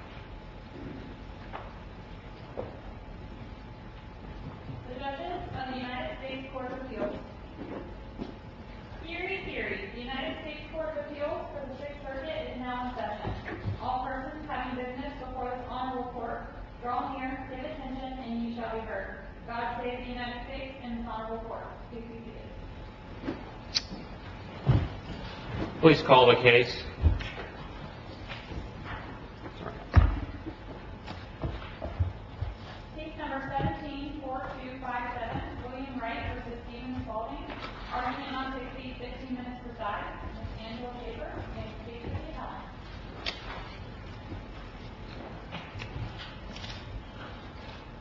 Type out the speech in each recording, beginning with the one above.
The Judges of the United States Court of Appeals Theory, theory. The United States Court of Appeals for the Sixth Circuit is now in session. All persons having witness before this Honorable Court, draw near, pay attention, and you shall be heard. God save the United States and this Honorable Court. Please call the case. Case number 17-4257, William Wright v. Steven Spalding. Arguing on 60-15 minutes resides Ms. Angela Schaefer.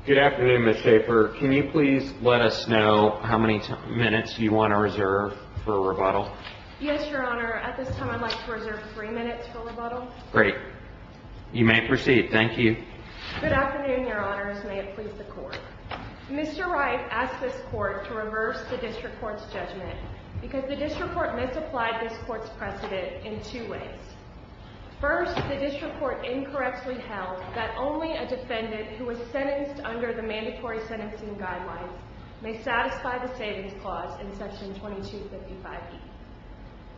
Good afternoon, Ms. Schaefer. Can you please let us know how many minutes you want to reserve for rebuttal? Yes, Your Honor. At this time, I'd like to reserve three minutes for rebuttal. Great. You may proceed. Thank you. Good afternoon, Your Honors. May it please the Court. Mr. Wright asked this Court to reverse the District Court's judgment because the District Court misapplied this Court's precedent in two ways. First, the District Court incorrectly held that only a defendant who was sentenced under the Mandatory Sentencing Guidelines may satisfy the Savings Clause in Section 2255e.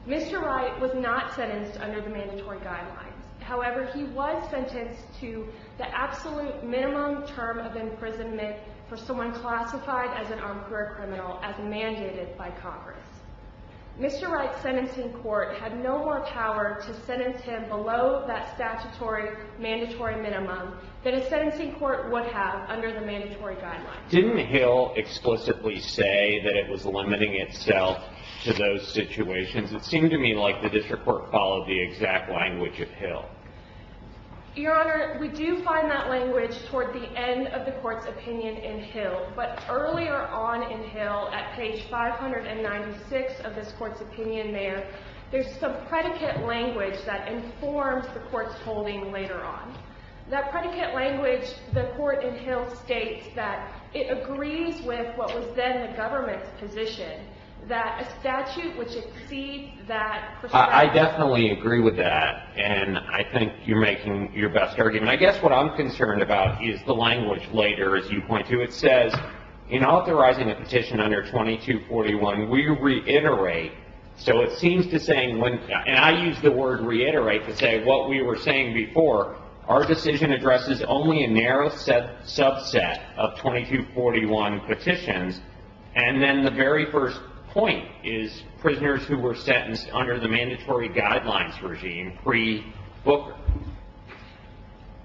Mr. Wright was not sentenced under the Mandatory Guidelines. However, he was sentenced to the absolute minimum term of imprisonment for someone classified as an armed career criminal as mandated by Congress. Mr. Wright's sentencing court had no more power to sentence him below that statutory mandatory minimum than a sentencing court would have under the Mandatory Guidelines. Didn't Hill explicitly say that it was limiting itself to those situations? It seemed to me like the District Court followed the exact language of Hill. Your Honor, we do find that language toward the end of the Court's opinion in Hill. But earlier on in Hill, at page 596 of this Court's opinion there, there's some predicate language that informs the Court's holding later on. That predicate language, the Court in Hill states that it agrees with what was then the government's position, that a statute which exceeds that... I definitely agree with that and I think you're making your best argument. I guess what I'm concerned about is the language later, as you point to. It says, in authorizing a petition under 2241, we reiterate. So it seems to say, and I use the word reiterate to say what we were saying before, our decision addresses only a narrow subset of 2241 petitions. And then the very first point is prisoners who were sentenced under the Mandatory Guidelines regime pre-Booker.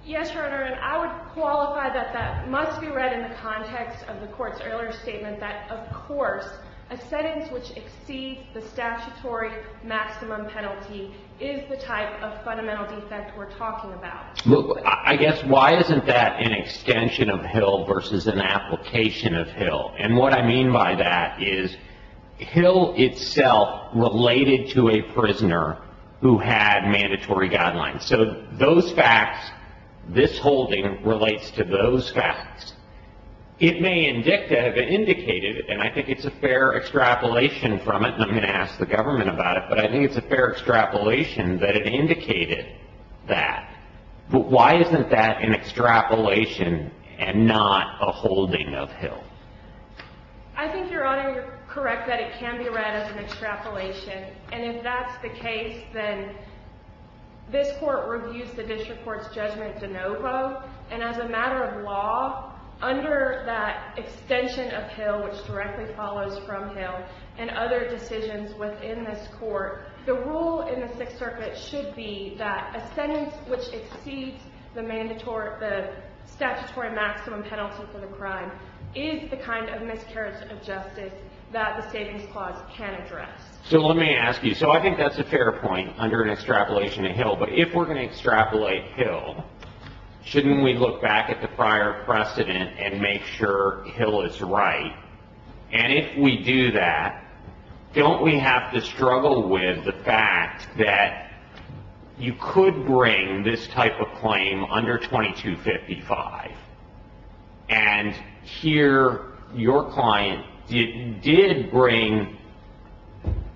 Yes, Your Honor, and I would qualify that that must be read in the context of the Court's earlier statement that, of course, a sentence which exceeds the statutory maximum penalty is the type of fundamental defect we're talking about. I guess, why isn't that an extension of Hill versus an application of Hill? And what I mean by that is Hill itself related to a prisoner who had Mandatory Guidelines. So those facts, this holding relates to those facts. It may have indicated, and I think it's a fair extrapolation from it, and I'm going to ask the government about it, but I think it's a fair extrapolation that it indicated that. But why isn't that an extrapolation and not a holding of Hill? I think, Your Honor, you're correct that it can be read as an extrapolation. And if that's the case, then this Court reviews the district court's judgment de novo, and as a matter of law, under that extension of Hill, which directly follows from Hill, and other decisions within this Court, the rule in the Sixth Circuit should be that a sentence which exceeds the statutory maximum penalty for the crime is the kind of miscarriage of justice that the Savings Clause can address. So let me ask you. So I think that's a fair point under an extrapolation of Hill. But if we're going to extrapolate Hill, shouldn't we look back at the prior precedent and make sure Hill is right? And if we do that, don't we have to struggle with the fact that you could bring this type of claim under 2255, and here your client did bring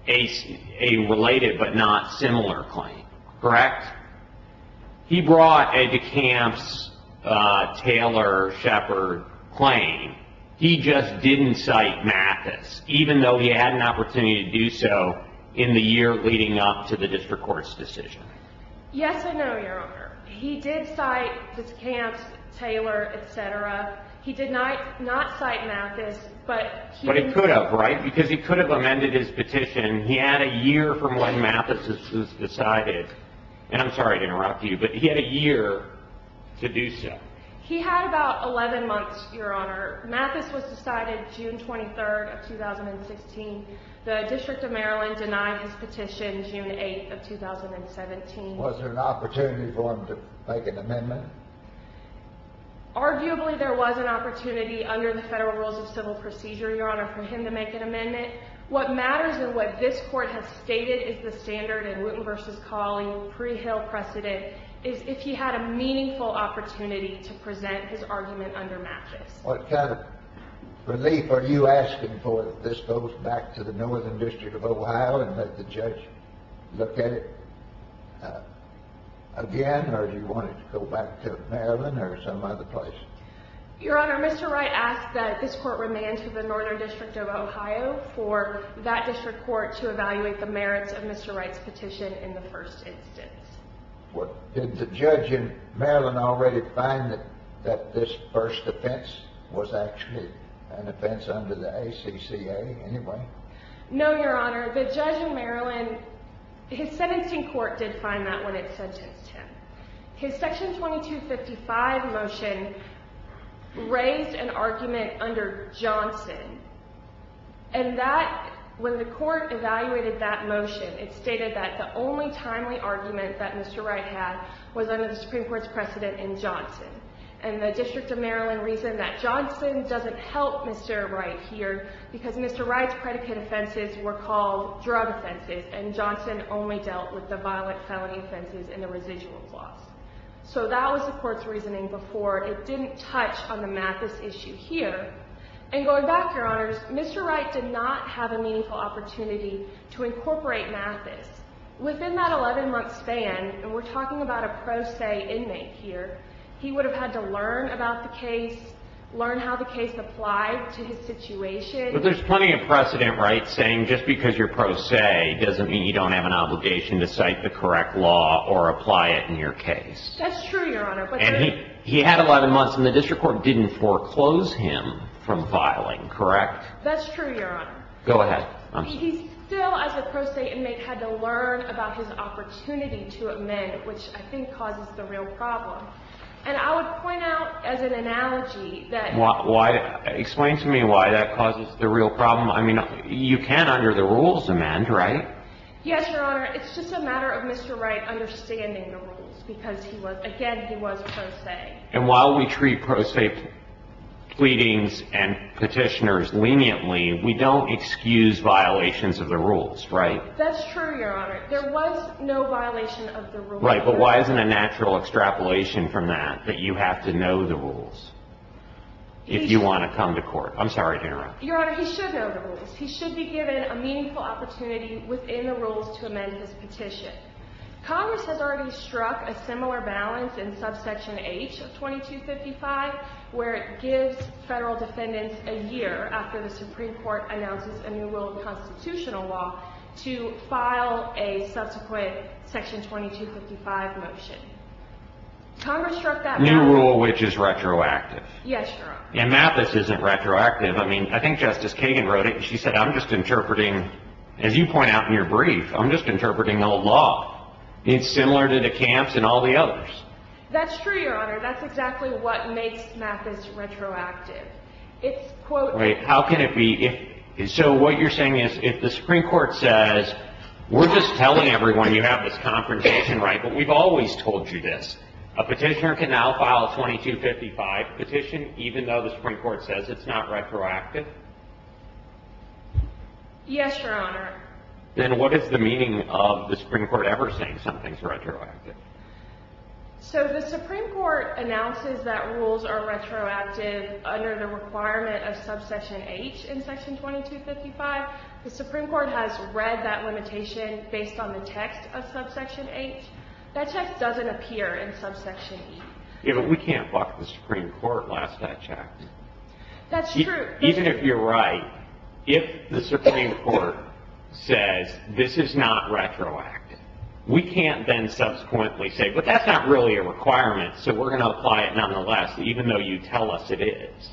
a related but not similar claim, correct? He brought a DeCamps-Taylor-Shepard claim. He just didn't cite Mathis, even though he had an opportunity to do so in the year leading up to the district court's decision. Yes and no, Your Honor. He did cite DeCamps-Taylor, et cetera. He did not cite Mathis, but he... But he could have, right? Because he could have amended his petition. He had a year from when Mathis was decided. And I'm sorry to interrupt you, but he had a year to do so. He had about 11 months, Your Honor. Mathis was decided June 23rd of 2016. The District of Maryland denied his petition June 8th of 2017. Was there an opportunity for him to make an amendment? Arguably there was an opportunity under the federal rules of civil procedure, Your Honor, for him to make an amendment. What matters and what this court has stated is the standard in Wooten v. Cawley, pre-Hill precedent, is if he had a meaningful opportunity to present his argument under Mathis. What kind of relief are you asking for if this goes back to the Northern District of Ohio and let the judge look at it again? Or do you want it to go back to Maryland or some other place? Your Honor, Mr. Wright asked that this court remand to the Northern District of Ohio for that district court to evaluate the merits of Mr. Wright's petition in the first instance. Did the judge in Maryland already find that this first offense was actually an offense under the ACCA anyway? No, Your Honor. The judge in Maryland, his sentencing court did find that when it sentenced him. His Section 2255 motion raised an argument under Johnson. And that, when the court evaluated that motion, it stated that the only timely argument that Mr. Wright had was under the Supreme Court's precedent in Johnson. And the District of Maryland reasoned that Johnson doesn't help Mr. Wright here because Mr. Wright's predicate offenses were called drug offenses and Johnson only dealt with the violent felony offenses and the residuals laws. So that was the court's reasoning before. It didn't touch on the Mathis issue here. And going back, Your Honors, Mr. Wright did not have a meaningful opportunity to incorporate Mathis. Within that 11-month span, and we're talking about a pro se inmate here, he would have had to learn about the case, learn how the case applied to his situation. But there's plenty of precedent, Wright, saying just because you're pro se doesn't mean you don't have an obligation to cite the correct law or apply it in your case. That's true, Your Honor. And he had 11 months, and the district court didn't foreclose him from filing, correct? That's true, Your Honor. Go ahead. He still, as a pro se inmate, had to learn about his opportunity to amend, which I think causes the real problem. And I would point out as an analogy that... Explain to me why that causes the real problem. I mean, you can't under the rules amend, right? Yes, Your Honor. It's just a matter of Mr. Wright understanding the rules because, again, he was pro se. And while we treat pro se pleadings and petitioners leniently, we don't excuse violations of the rules, right? That's true, Your Honor. There was no violation of the rules. Right. But why isn't a natural extrapolation from that that you have to know the rules if you want to come to court? I'm sorry to interrupt. Your Honor, he should know the rules. He should be given a meaningful opportunity within the rules to amend his petition. Congress has already struck a similar balance in subsection H of 2255, where it gives federal defendants a year after the Supreme Court announces a new rule of constitutional law to file a subsequent section 2255 motion. Congress struck that balance. New rule, which is retroactive. Yes, Your Honor. And Mathis isn't retroactive. I mean, I think Justice Kagan wrote it. She said, I'm just interpreting, as you point out in your brief, I'm just interpreting old law. It's similar to the camps and all the others. That's true, Your Honor. That's exactly what makes Mathis retroactive. Right. How can it be? So what you're saying is if the Supreme Court says, we're just telling everyone you have this confrontation right, but we've always told you this, a petitioner can now file a 2255 petition even though the Supreme Court says it's not retroactive? Yes, Your Honor. Then what is the meaning of the Supreme Court ever saying something's retroactive? So the Supreme Court announces that rules are retroactive under the requirement of subsection H in section 2255. The Supreme Court has read that limitation based on the text of subsection H. That text doesn't appear in subsection E. Yeah, but we can't buck the Supreme Court last that check. That's true. Even if you're right, if the Supreme Court says this is not retroactive, we can't then subsequently say, but that's not really a requirement, so we're going to apply it nonetheless, even though you tell us it is.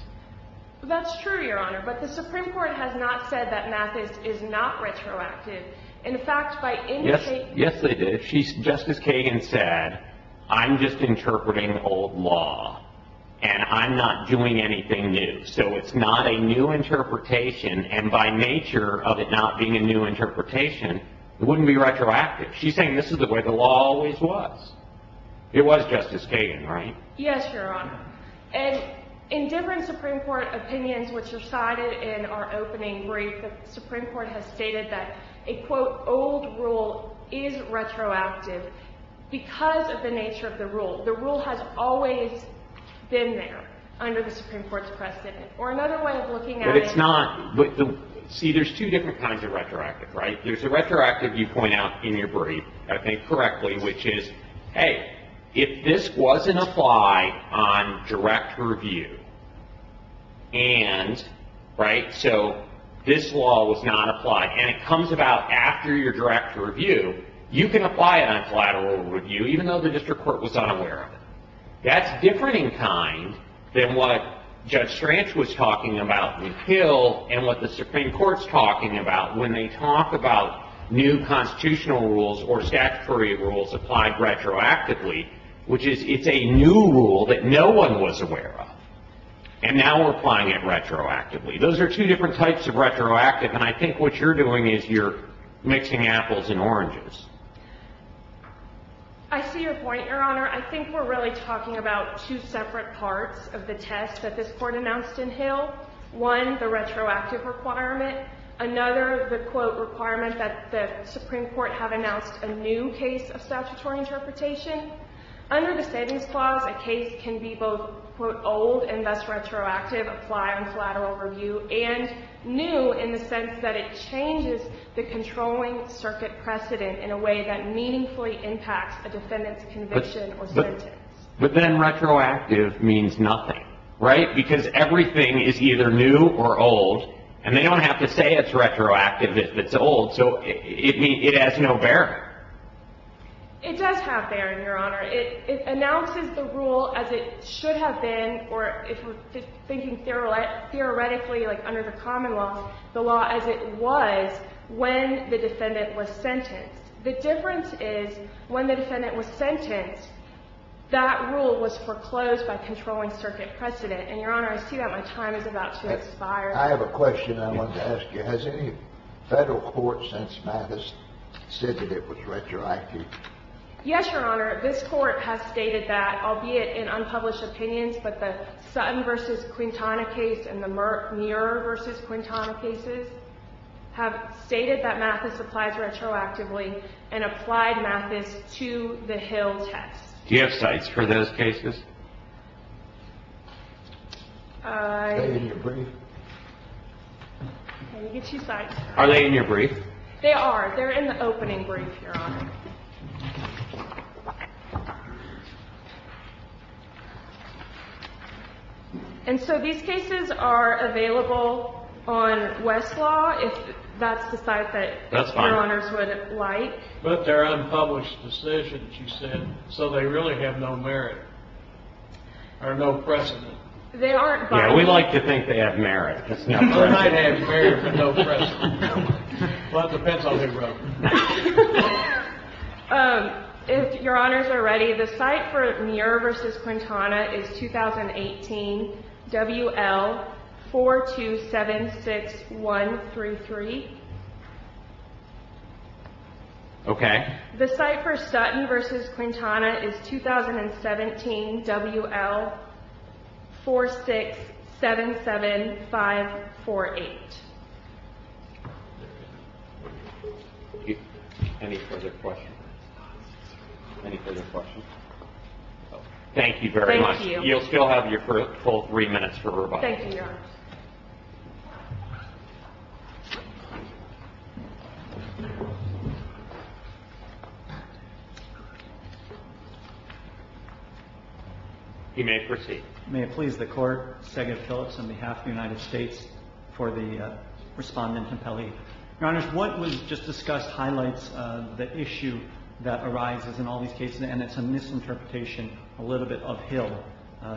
That's true, Your Honor, but the Supreme Court has not said that Mathis is not retroactive. In fact, by indicating... Yes, they did. Justice Kagan said, I'm just interpreting old law, and I'm not doing anything new. So it's not a new interpretation, and by nature of it not being a new interpretation, it wouldn't be retroactive. She's saying this is the way the law always was. It was, Justice Kagan, right? Yes, Your Honor, and in different Supreme Court opinions which are cited in our opening brief, the Supreme Court has stated that a, quote, old rule is retroactive because of the nature of the rule. The rule has always been there under the Supreme Court's precedent. Or another way of looking at it... But it's not... See, there's two different kinds of retroactive, right? There's a retroactive you point out in your brief, I think, correctly, which is, hey, if this wasn't applied on direct review, and, right, so this law was not applied, and it comes about after your direct review, you can apply it on collateral review, even though the district court was unaware of it. That's different in kind than what Judge Strange was talking about in Hill and what the Supreme Court's talking about when they talk about new constitutional rules or statutory rules applied retroactively, which is, it's a new rule that no one was aware of. And now we're applying it retroactively. Those are two different types of retroactive, and I think what you're doing is you're mixing apples and oranges. I see your point, Your Honor. I think we're really talking about two separate parts of the test that this Court announced in Hill. One, the retroactive requirement. Another, the, quote, requirement that the Supreme Court have announced a new case of statutory interpretation. Under the Savings Clause, a case can be both, quote, old and thus retroactive, apply on collateral review, and new in the sense that it changes the controlling circuit precedent in a way that meaningfully impacts a defendant's conviction or sentence. But then retroactive means nothing, right, because everything is either new or old, and they don't have to say it's retroactive if it's old, so it has no bearing. It does have bearing, Your Honor. It announces the rule as it should have been, or if we're thinking theoretically, like under the Commonwealth, the law as it was when the defendant was sentenced. The difference is when the defendant was sentenced, that rule was foreclosed by controlling circuit precedent. And, Your Honor, I see that my time is about to expire. I have a question I wanted to ask you. Has any federal court since Mathis said that it was retroactive? Yes, Your Honor. This court has stated that, albeit in unpublished opinions, but the Sutton v. Quintana case and the Muir v. Quintana cases have stated that Mathis applies retroactively and applied Mathis to the Hill test. Do you have sites for those cases? Are they in your brief? They are. They're in the opening brief, Your Honor. And so these cases are available on Westlaw, if that's the site that Your Honors would like. That's fine. But they're unpublished decisions, you said, so they really have no merit. Or no precedent. They aren't published. Yeah, we like to think they have merit. They might have merit, but no precedent. Well, that depends on who wrote them. If Your Honors are ready, the site for Muir v. Quintana is 2018 WL 4276133. Okay. The site for Sutton v. Quintana is 2017 WL 4677548. Any further questions? Any further questions? Thank you very much. Thank you. You'll still have your full three minutes for rebuttal. Thank you, Your Honor. He may proceed. May it please the Court. Stegan Phillips on behalf of the United States for the Respondent and Pelley. Your Honors, what was just discussed highlights the issue that arises in all these cases, and it's a misinterpretation a little bit of Hill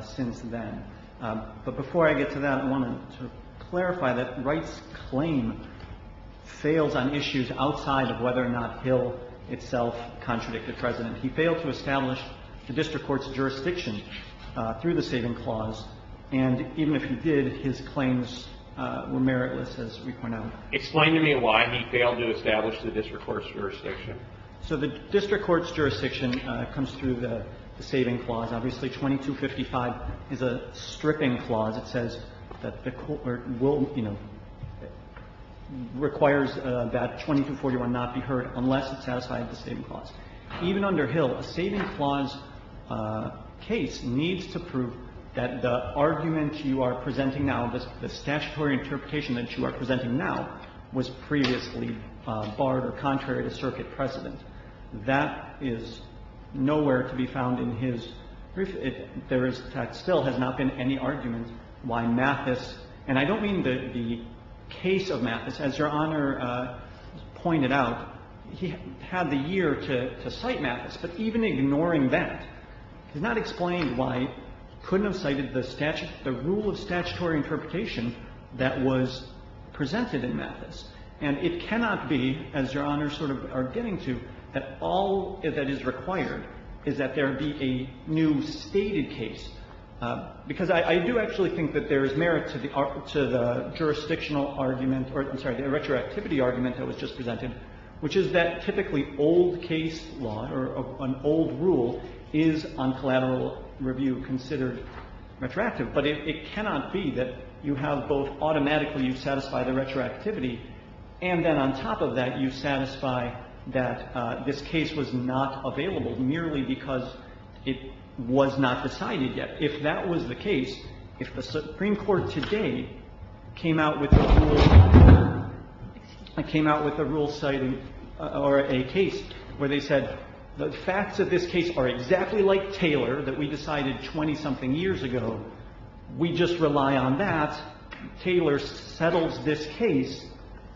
since then. But before I get to that, I wanted to clarify that Wright's claim fails on issues outside of whether or not Hill itself contradicted precedent. He failed to establish the district court's jurisdiction through the saving clause, and even if he did, his claims were meritless, as we pointed out. Explain to me why he failed to establish the district court's jurisdiction. So the district court's jurisdiction comes through the saving clause. Obviously, 2255 is a stripping clause. It says that the court will, you know, requires that 2241 not be heard unless it satisfies the saving clause. Even under Hill, a saving clause case needs to prove that the argument you are presenting now, the statutory interpretation that you are presenting now was previously barred or contrary to circuit precedent. That is nowhere to be found in his brief. There still has not been any argument why Mathis, and I don't mean the case of Mathis. As Your Honor pointed out, he had the year to cite Mathis. But even ignoring that does not explain why he couldn't have cited the rule of statutory interpretation that was presented in Mathis. And it cannot be, as Your Honors sort of are getting to, that all that is required is that there be a new stated case, because I do actually think that there is merit to the jurisdictional argument or, I'm sorry, the retroactivity argument that was just presented, which is that typically old case law or an old rule is, on collateral review, considered retroactive. But it cannot be that you have both automatically you satisfy the retroactivity and then on top of that you satisfy that this case was not available merely because it was not decided yet. If that was the case, if the Supreme Court today came out with a rule, came out with a rule citing or a case where they said the facts of this case are exactly like Taylor that we decided 20-something years ago. We just rely on that. Taylor settles this case.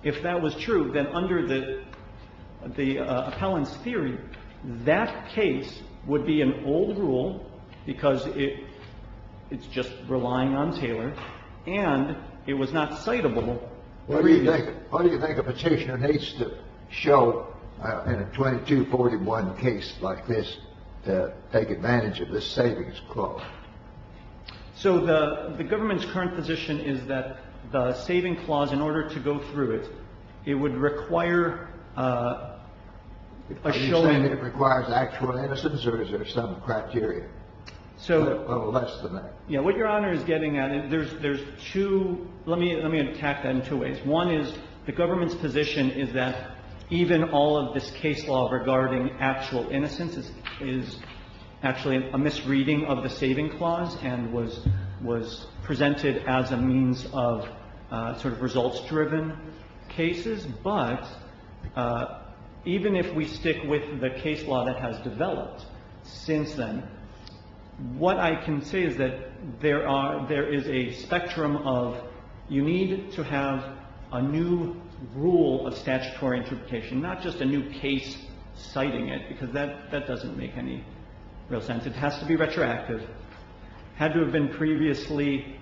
If that was true, then under the appellant's theory, that case would be an old rule because it's just relying on Taylor and it was not citable. What do you think? What do you think a Petitioner needs to show in a 2241 case like this to take advantage of this savings clause? So the government's current position is that the savings clause, in order to go through it, it would require a showing. Are you saying it requires actual innocence or is there some criteria? So. Or less than that. Yes. What Your Honor is getting at, there's two – let me attack that in two ways. One is the government's position is that even all of this case law regarding actual innocence is actually a misreading of the saving clause and was presented as a means of sort of results-driven cases. But even if we stick with the case law that has developed since then, what I can say is that there is a spectrum of you need to have a new rule of statutory interpretation, not just a new case citing it, because that doesn't make any real sense. It has to be retroactive, had to have been previously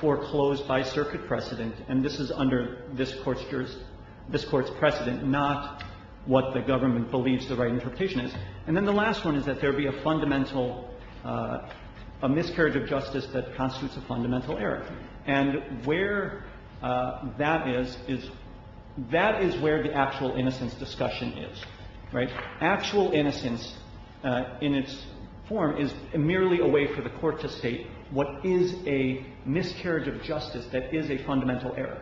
foreclosed by circuit precedent, and this is under this Court's precedent, not what the government believes the right interpretation is. And then the last one is that there would be a fundamental – a miscarriage of justice that constitutes a fundamental error. And where that is is – that is where the actual innocence discussion is, right? Actual innocence in its form is merely a way for the Court to state what is a miscarriage of justice that is a fundamental error.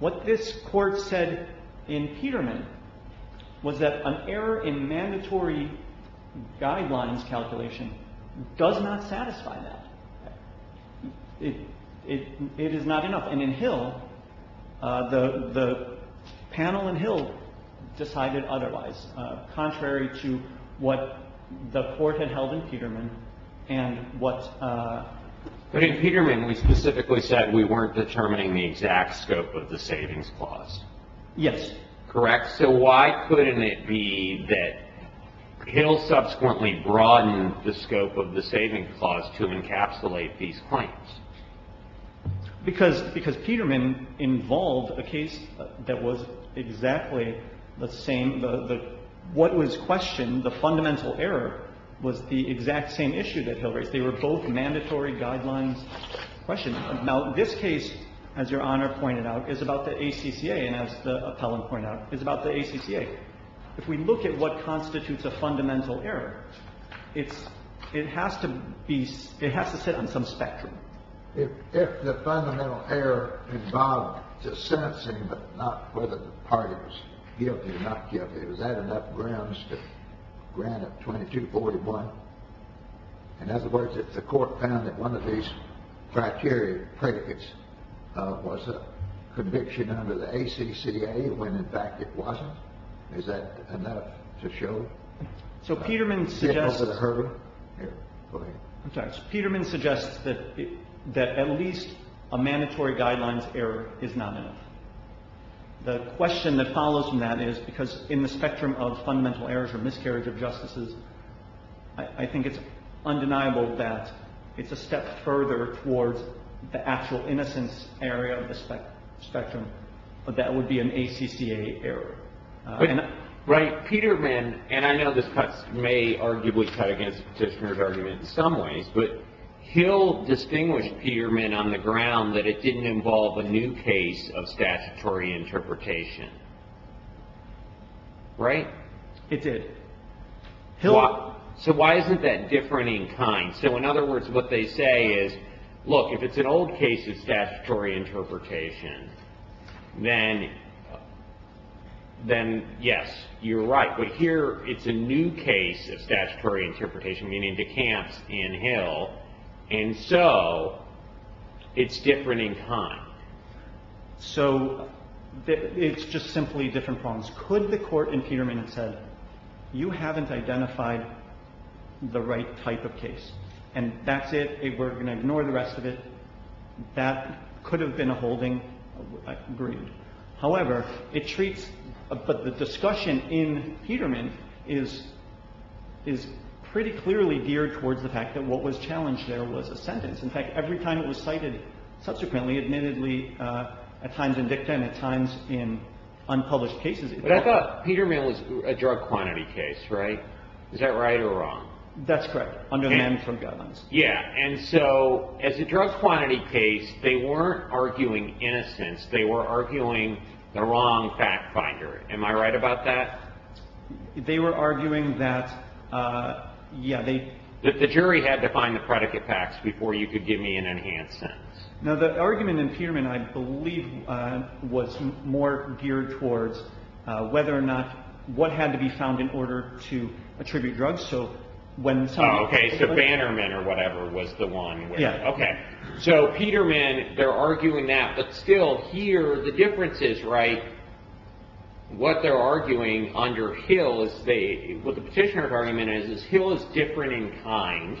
What this Court said in Peterman was that an error in mandatory guidelines calculation does not satisfy that. It is not enough. And in Hill, the panel in Hill decided otherwise, contrary to what the Court had held in Peterman and what – But in Peterman, we specifically said we weren't determining the exact scope of the savings clause. Yes. Correct? So why couldn't it be that Hill subsequently broadened the scope of the savings clause to encapsulate these claims? Because – because Peterman involved a case that was exactly the same – the – what was questioned, the fundamental error, was the exact same issue that Hill raised. They were both mandatory guidelines questions. Now, this case, as Your Honor pointed out, is about the ACCA, and as the appellant pointed out, is about the ACCA. If we look at what constitutes a fundamental error, it's – it has to be – it has to sit on some spectrum. If the fundamental error involved the sentencing but not whether the party was guilty or not guilty, was that enough grounds to grant it 2241? In other words, if the Court found that one of these criteria predicates was a conviction of the ACCA when, in fact, it wasn't, is that enough to show that Hill was heard? Go ahead. I'm sorry. Peterman suggests that at least a mandatory guidelines error is not enough. The question that follows from that is, because in the spectrum of fundamental errors or miscarriage of justices, I think it's undeniable that it's a step further towards the actual innocence area of the spectrum. But that would be an ACCA error. Right. Peterman – and I know this may arguably cut against Petitioner's argument in some ways – but Hill distinguished Peterman on the ground that it didn't involve a new case of statutory interpretation. Right? It did. So why isn't that different in kind? So, in other words, what they say is, look, if it's an old case of statutory interpretation, then yes, you're right. But here it's a new case of statutory interpretation, meaning DeCamps and Hill. And so it's different in kind. So it's just simply different problems. Could the Court in Peterman have said, you haven't identified the right type of case, and that's it, we're going to ignore the rest of it? That could have been a holding. Agreed. However, it treats – but the discussion in Peterman is pretty clearly geared towards the fact that what was challenged there was a sentence. In fact, every time it was cited subsequently, admittedly, at times in dicta and at But I thought Peterman was a drug quantity case, right? Is that right or wrong? That's correct. Under Menn from Govans. Yeah. And so as a drug quantity case, they weren't arguing innocence. They were arguing the wrong fact finder. Am I right about that? They were arguing that, yeah, they – That the jury had to find the predicate facts before you could give me an enhanced sentence. Now, the argument in Peterman, I believe, was more geared towards whether or not what had to be found in order to attribute drugs. So when someone – Oh, okay. So Bannerman or whatever was the one where – Yeah. Okay. So Peterman, they're arguing that, but still here the difference is, right, what they're arguing under Hill is they – what the petitioner's argument is is Hill is different in kind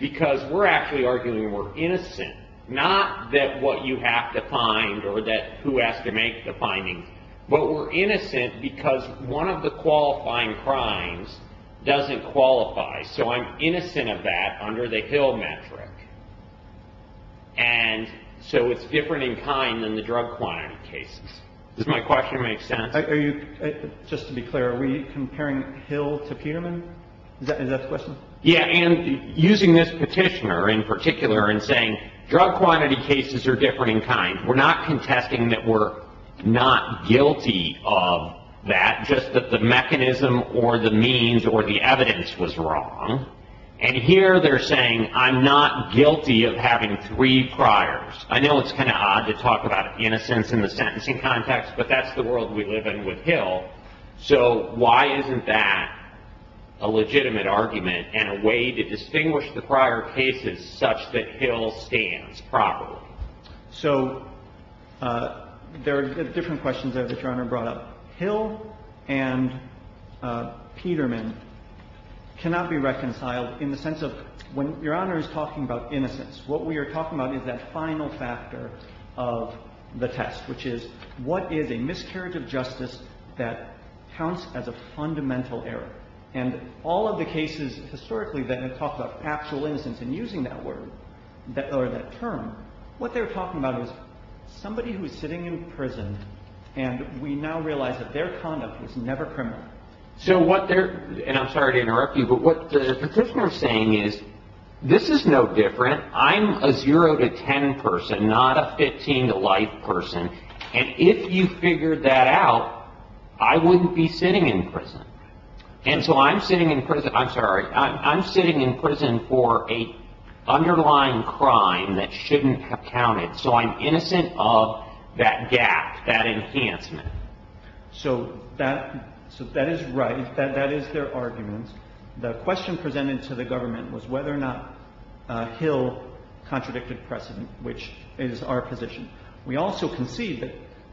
because we're actually arguing we're innocent, not that what you have to find or that who has to make the findings, but we're innocent because one of the qualifying crimes doesn't qualify. So I'm innocent of that under the Hill metric. And so it's different in kind than the drug quantity cases. Does my question make sense? Just to be clear, are we comparing Hill to Peterman? Is that the question? Yeah, and using this petitioner in particular and saying drug quantity cases are different in kind, we're not contesting that we're not guilty of that, just that the mechanism or the means or the evidence was wrong. And here they're saying I'm not guilty of having three priors. I know it's kind of odd to talk about innocence in the sentencing context, but that's the world we live in with Hill. So why isn't that a legitimate argument and a way to distinguish the prior cases such that Hill stands properly? So there are different questions there that Your Honor brought up. Hill and Peterman cannot be reconciled in the sense of – when Your Honor is talking about innocence, what we are talking about is that final factor of the test, which is what is a miscarriage of justice that counts as a fundamental error. And all of the cases historically that have talked about actual innocence and using that word or that term, what they're talking about is somebody who is sitting in prison and we now realize that their conduct was never criminal. So what they're – and I'm sorry to interrupt you, but what the petitioner is saying is this is no different. I'm a 0 to 10 person, not a 15 to life person. And if you figured that out, I wouldn't be sitting in prison. And so I'm sitting in prison – I'm sorry. I'm sitting in prison for an underlying crime that shouldn't have counted. So I'm innocent of that gap, that enhancement. So that is right. That is their argument. The question presented to the government was whether or not Hill contradicted precedent, which is our position. We also concede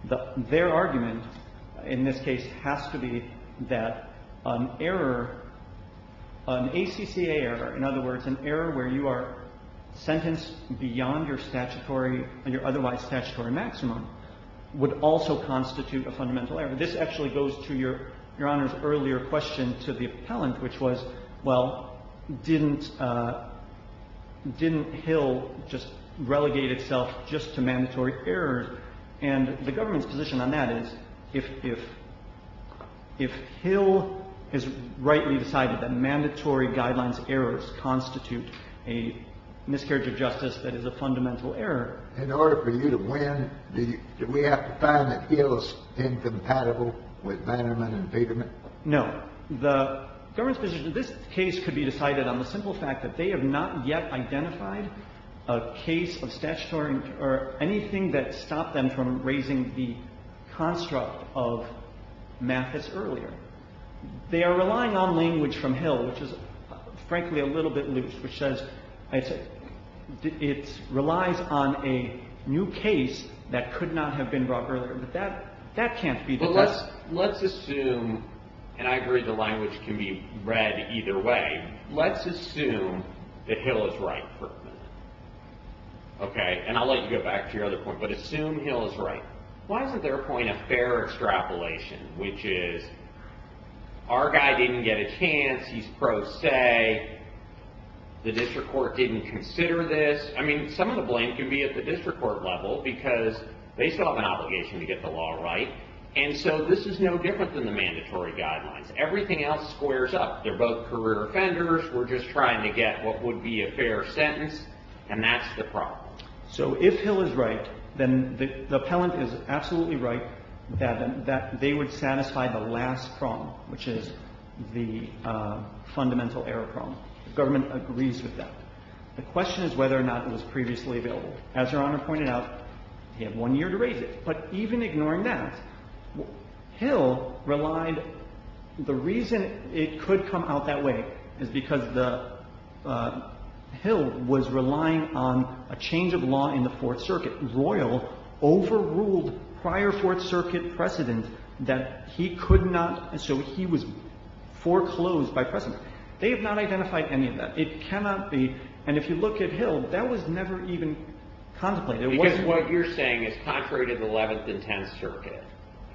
that their argument in this case has to be that an error, an ACCA error, in other words, an error where you are sentenced beyond your statutory and your otherwise statutory maximum, would also constitute a fundamental error. This actually goes to Your Honor's earlier question to the appellant, which was, well, didn't Hill just relegate itself just to mandatory errors? And the government's position on that is if Hill has rightly decided that mandatory guidelines errors constitute a miscarriage of justice, that is a fundamental error. In order for you to win, do we have to find that Hill is incompatible with Bannerman and Vigerman? No. The government's position in this case could be decided on the simple fact that they have not yet identified a case of statutory or anything that stopped them from raising the construct of Mathis earlier. They are relying on language from Hill, which is, frankly, a little bit loose, which says it relies on a new case that could not have been brought earlier. But that can't be determined. Well, let's assume, and I agree the language can be read either way, let's assume that Hill is right. Okay? And I'll let you go back to your other point. But assume Hill is right. Why isn't their point a fair extrapolation, which is our guy didn't get a chance, he's pro se, the district court didn't consider this. I mean, some of the blame can be at the district court level, because they still have an obligation to get the law right. And so this is no different than the mandatory guidelines. Everything else squares up. They're both career offenders. We're just trying to get what would be a fair sentence. And that's the problem. So if Hill is right, then the appellant is absolutely right that they would satisfy the last problem, which is the fundamental error problem. The government agrees with that. The question is whether or not it was previously available. As Your Honor pointed out, they have one year to raise it. But even ignoring that, Hill relied the reason it could come out that way is because the Hill was relying on a change of law in the Fourth Circuit. The Fourth Circuit royal overruled prior Fourth Circuit precedent that he could not and so he was foreclosed by precedent. They have not identified any of that. It cannot be. And if you look at Hill, that was never even contemplated. Because what you're saying is contrary to the Eleventh and Tenth Circuit,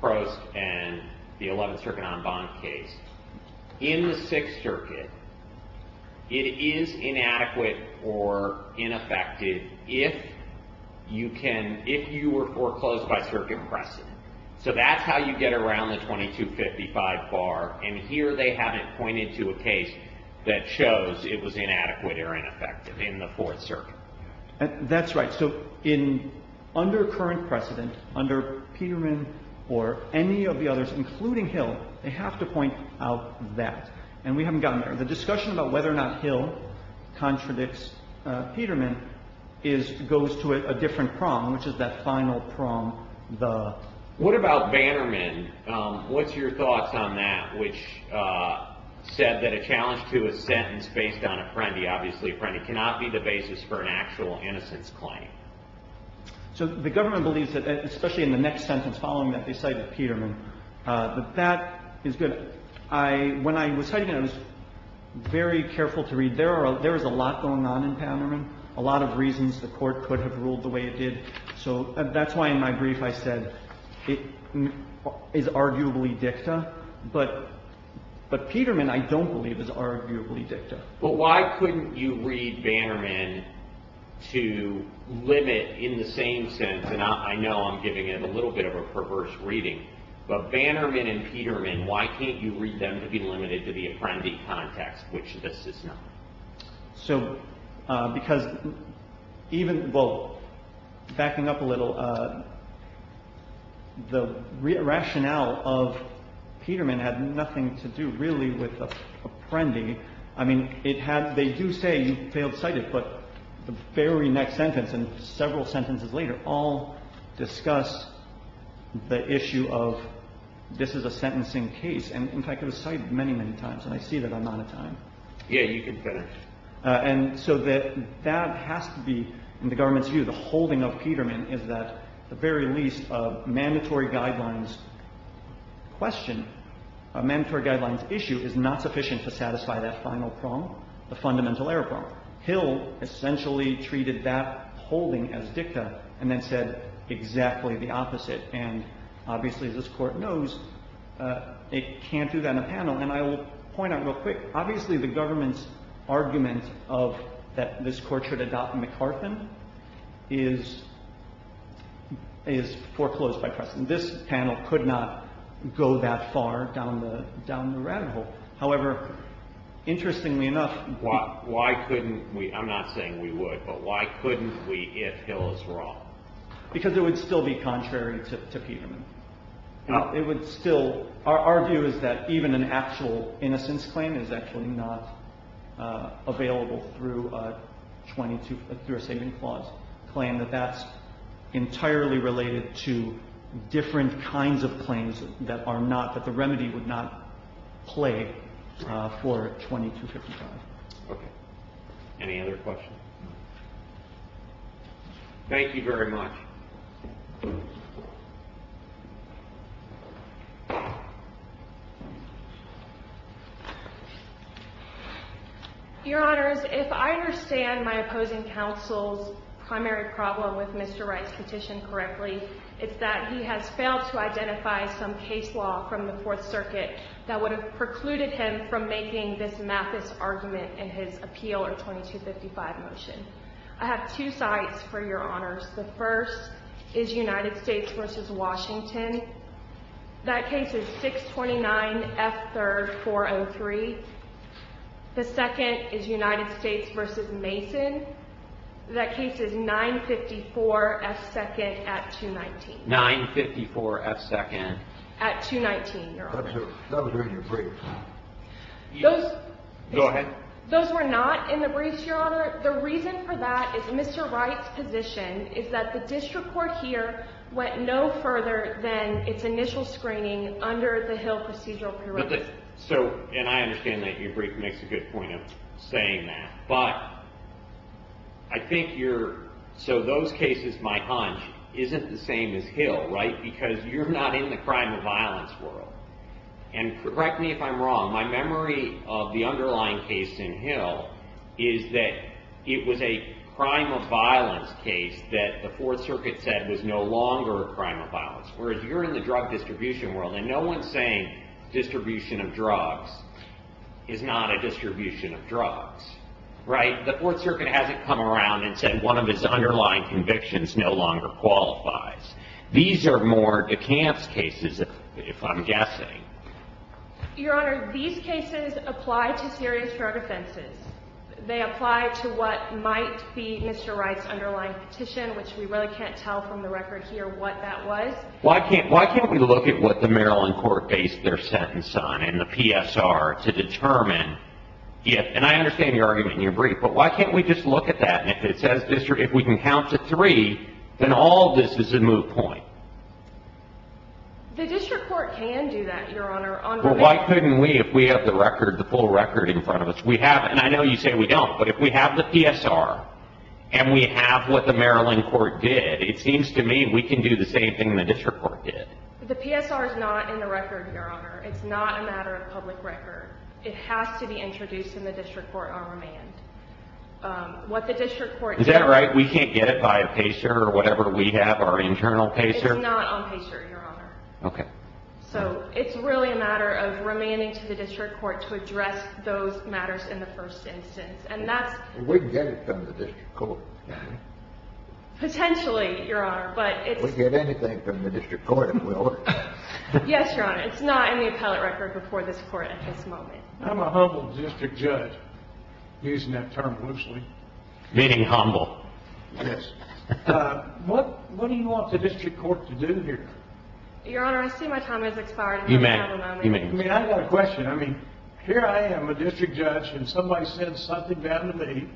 Prost and the Eleventh Circuit en banc case, in the Sixth Circuit, it is inadequate or ineffective if you were foreclosed by circuit precedent. So that's how you get around the 2255 bar. And here they haven't pointed to a case that shows it was inadequate or ineffective in the Fourth Circuit. That's right. So under current precedent, under Peterman or any of the others, including Hill, they have to point out that. And we haven't gotten there. The discussion about whether or not Hill contradicts Peterman is goes to a different prong, which is that final prong, the. What about Bannerman? What's your thoughts on that, which said that a challenge to a sentence based on Apprendi, obviously Apprendi cannot be the basis for an actual innocence claim? So the government believes that, especially in the next sentence following that, they cited Peterman. But that is good. When I was citing it, I was very careful to read. There is a lot going on in Bannerman, a lot of reasons the Court could have ruled the way it did. So that's why in my brief I said it is arguably dicta. But Peterman I don't believe is arguably dicta. But why couldn't you read Bannerman to limit in the same sense, and I know I'm giving you a little bit of a perverse reading, but Bannerman and Peterman, why can't you read them to be limited to the Apprendi context, which this is not? So because even, well, backing up a little, the rationale of Peterman had nothing to do really with Apprendi. I mean, it had, they do say you failed to cite it, but the very next sentence and several sentences later all discuss the issue of this is a sentencing case. And, in fact, it was cited many, many times, and I see that I'm out of time. Kennedy. Yeah, you can finish. And so that has to be, in the government's view, the holding of Peterman is that the very least of mandatory guidelines question, mandatory guidelines issue is not sufficient to satisfy that final prong, the fundamental error prong. Hill essentially treated that holding as dicta and then said exactly the opposite. And obviously, as this Court knows, it can't do that in a panel. And I will point out real quick, obviously, the government's argument of that this Court should adopt McCarthan is foreclosed by precedent. This panel could not go that far down the rabbit hole. However, interestingly enough. Why couldn't we, I'm not saying we would, but why couldn't we if Hill is wrong? Because it would still be contrary to Peterman. It would still, our view is that even an actual innocence claim is actually not available through a saving clause claim, that that's entirely related to different kinds of claims that are not, that the remedy would not play for 2255. Okay. Any other questions? Thank you very much. Your Honors, if I understand my opposing counsel's primary problem with Mr. Wright's petition correctly, it's that he has failed to identify some of the issues that are in case law from the Fourth Circuit that would have precluded him from making this Mathis argument in his appeal or 2255 motion. I have two sites for your Honors. The first is United States v. Washington. That case is 629 F. 3rd 403. The second is United States v. Mason. That case is 954 F. 2nd at 219. 954 F. 2nd. At 219, Your Honor. That was in your brief. Those... Go ahead. Those were not in the briefs, Your Honor. The reason for that is Mr. Wright's position is that the district court here went no further than its initial screening under the Hill procedural prerequisite. So, and I understand that your brief makes a good point of saying that. But I think you're... So, those cases, my hunch, isn't the same as Hill, right? Because you're not in the crime of violence world. And correct me if I'm wrong. My memory of the underlying case in Hill is that it was a crime of violence case that the Fourth Circuit said was no longer a crime of violence. Whereas you're in the drug distribution world and no one's saying distribution of drugs is not a distribution of drugs. Right? The Fourth Circuit hasn't come around and said one of its underlying convictions no longer qualifies. These are more DeKalb's cases, if I'm guessing. Your Honor, these cases apply to serious drug offenses. They apply to what might be Mr. Wright's underlying petition, which we really can't tell from the record here what that was. Why can't we look at what the Maryland court based their sentence on in the PSR to determine if... And I understand your argument in your brief. But why can't we just look at that and if it says district... If we can count to three, then all of this is a moot point. The district court can do that, Your Honor. Well, why couldn't we if we have the record, the full record in front of us? We have... And I know you say we don't. But if we have the PSR and we have what the Maryland court did, it seems to me we can do the same thing the district court did. The PSR is not in the record, Your Honor. It's not a matter of public record. It has to be introduced in the district court on remand. What the district court... Is that right? We can't get it by a PACER or whatever we have, our internal PACER? It's not on PACER, Your Honor. Okay. So it's really a matter of remanding to the district court to address those matters in the first instance. And that's... We'd get it from the district court. Potentially, Your Honor, but it's... We'd get anything from the district court if we were. Yes, Your Honor. It's not in the appellate record before this court at this moment. I'm a humble district judge, using that term loosely. Meaning humble. Yes. What do you want the district court to do here? Your Honor, I see my time has expired. You may have a moment. I mean, I've got a question. I mean, here I am, a district judge, and somebody sends something down to me,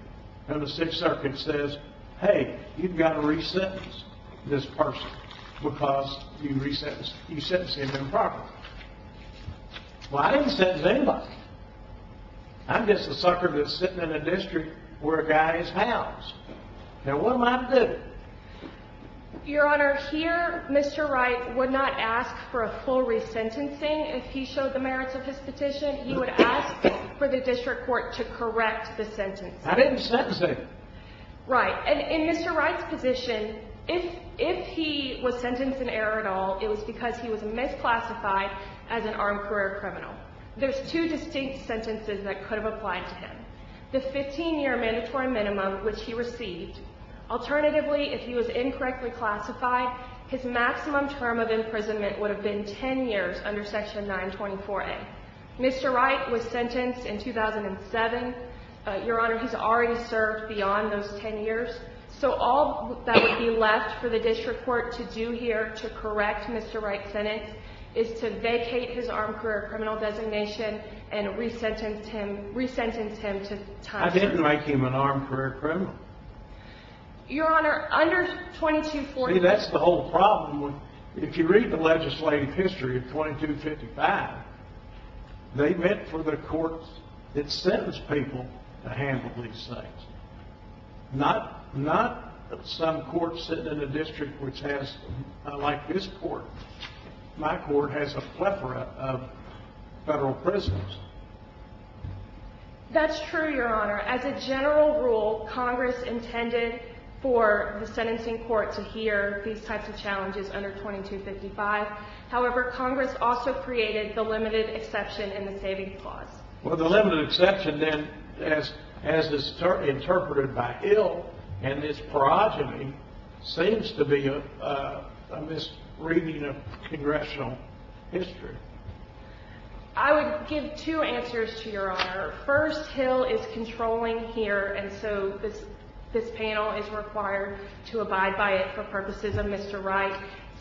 and the Sixth Circuit says, Hey, you've got to re-sentence this person because you sentencing them improperly. Well, I didn't sentence anybody. I'm just a sucker that's sitting in a district where a guy is housed. Now, what am I to do? Your Honor, here, Mr. Wright would not ask for a full re-sentencing. If he showed the merits of his petition, he would ask for the district court to correct the sentence. I didn't sentence him. Right. And in Mr. Wright's position, if he was sentenced in error at all, it was because he was misclassified as an armed career criminal. There's two distinct sentences that could have applied to him. The 15-year mandatory minimum, which he received. Alternatively, if he was incorrectly classified, his maximum term of imprisonment would have been 10 years under Section 924A. Mr. Wright was sentenced in 2007. Your Honor, he's already served beyond those 10 years. So all that would be left for the district court to do here to correct Mr. Wright's sentence is to vacate his armed career criminal designation and re-sentence him to time. I didn't make him an armed career criminal. Your Honor, under 2240... See, that's the whole problem. If you read the legislative history of 2255, they meant for the courts that sentenced people to handle these things. Not some court sitting in a district which has, like this court. My court has a plethora of federal prisoners. That's true, Your Honor. As a general rule, Congress intended for the sentencing court to hear these types of challenges under 2255. However, Congress also created the limited exception in the saving clause. Well, the limited exception, then, as is interpreted by Hill and his progeny seems to be a misreading of congressional history. I would give two answers to Your Honor. First, Hill is controlling here, and so this panel is required to abide by it for purposes of Mr. Wright.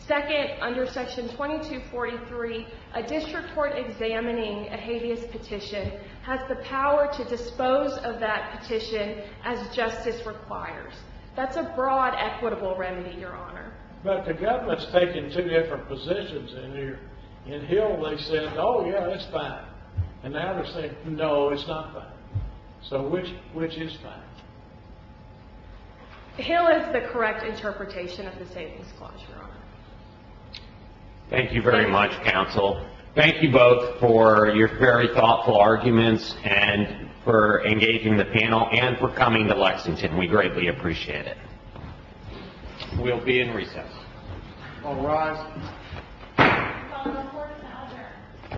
Second, under section 2243, a district court examining a habeas petition has the power to dispose of that petition as justice requires. That's a broad equitable remedy, Your Honor. But the government's taking two different positions in here. In Hill, they said, oh, yeah, that's fine. And the others say, no, it's not fine. So which is fine? Hill is the correct interpretation of the savings clause, Your Honor. Thank you very much, counsel. Thank you both for your very thoughtful arguments and for engaging the panel and for coming to Lexington. We greatly appreciate it. We'll be in recess. All rise.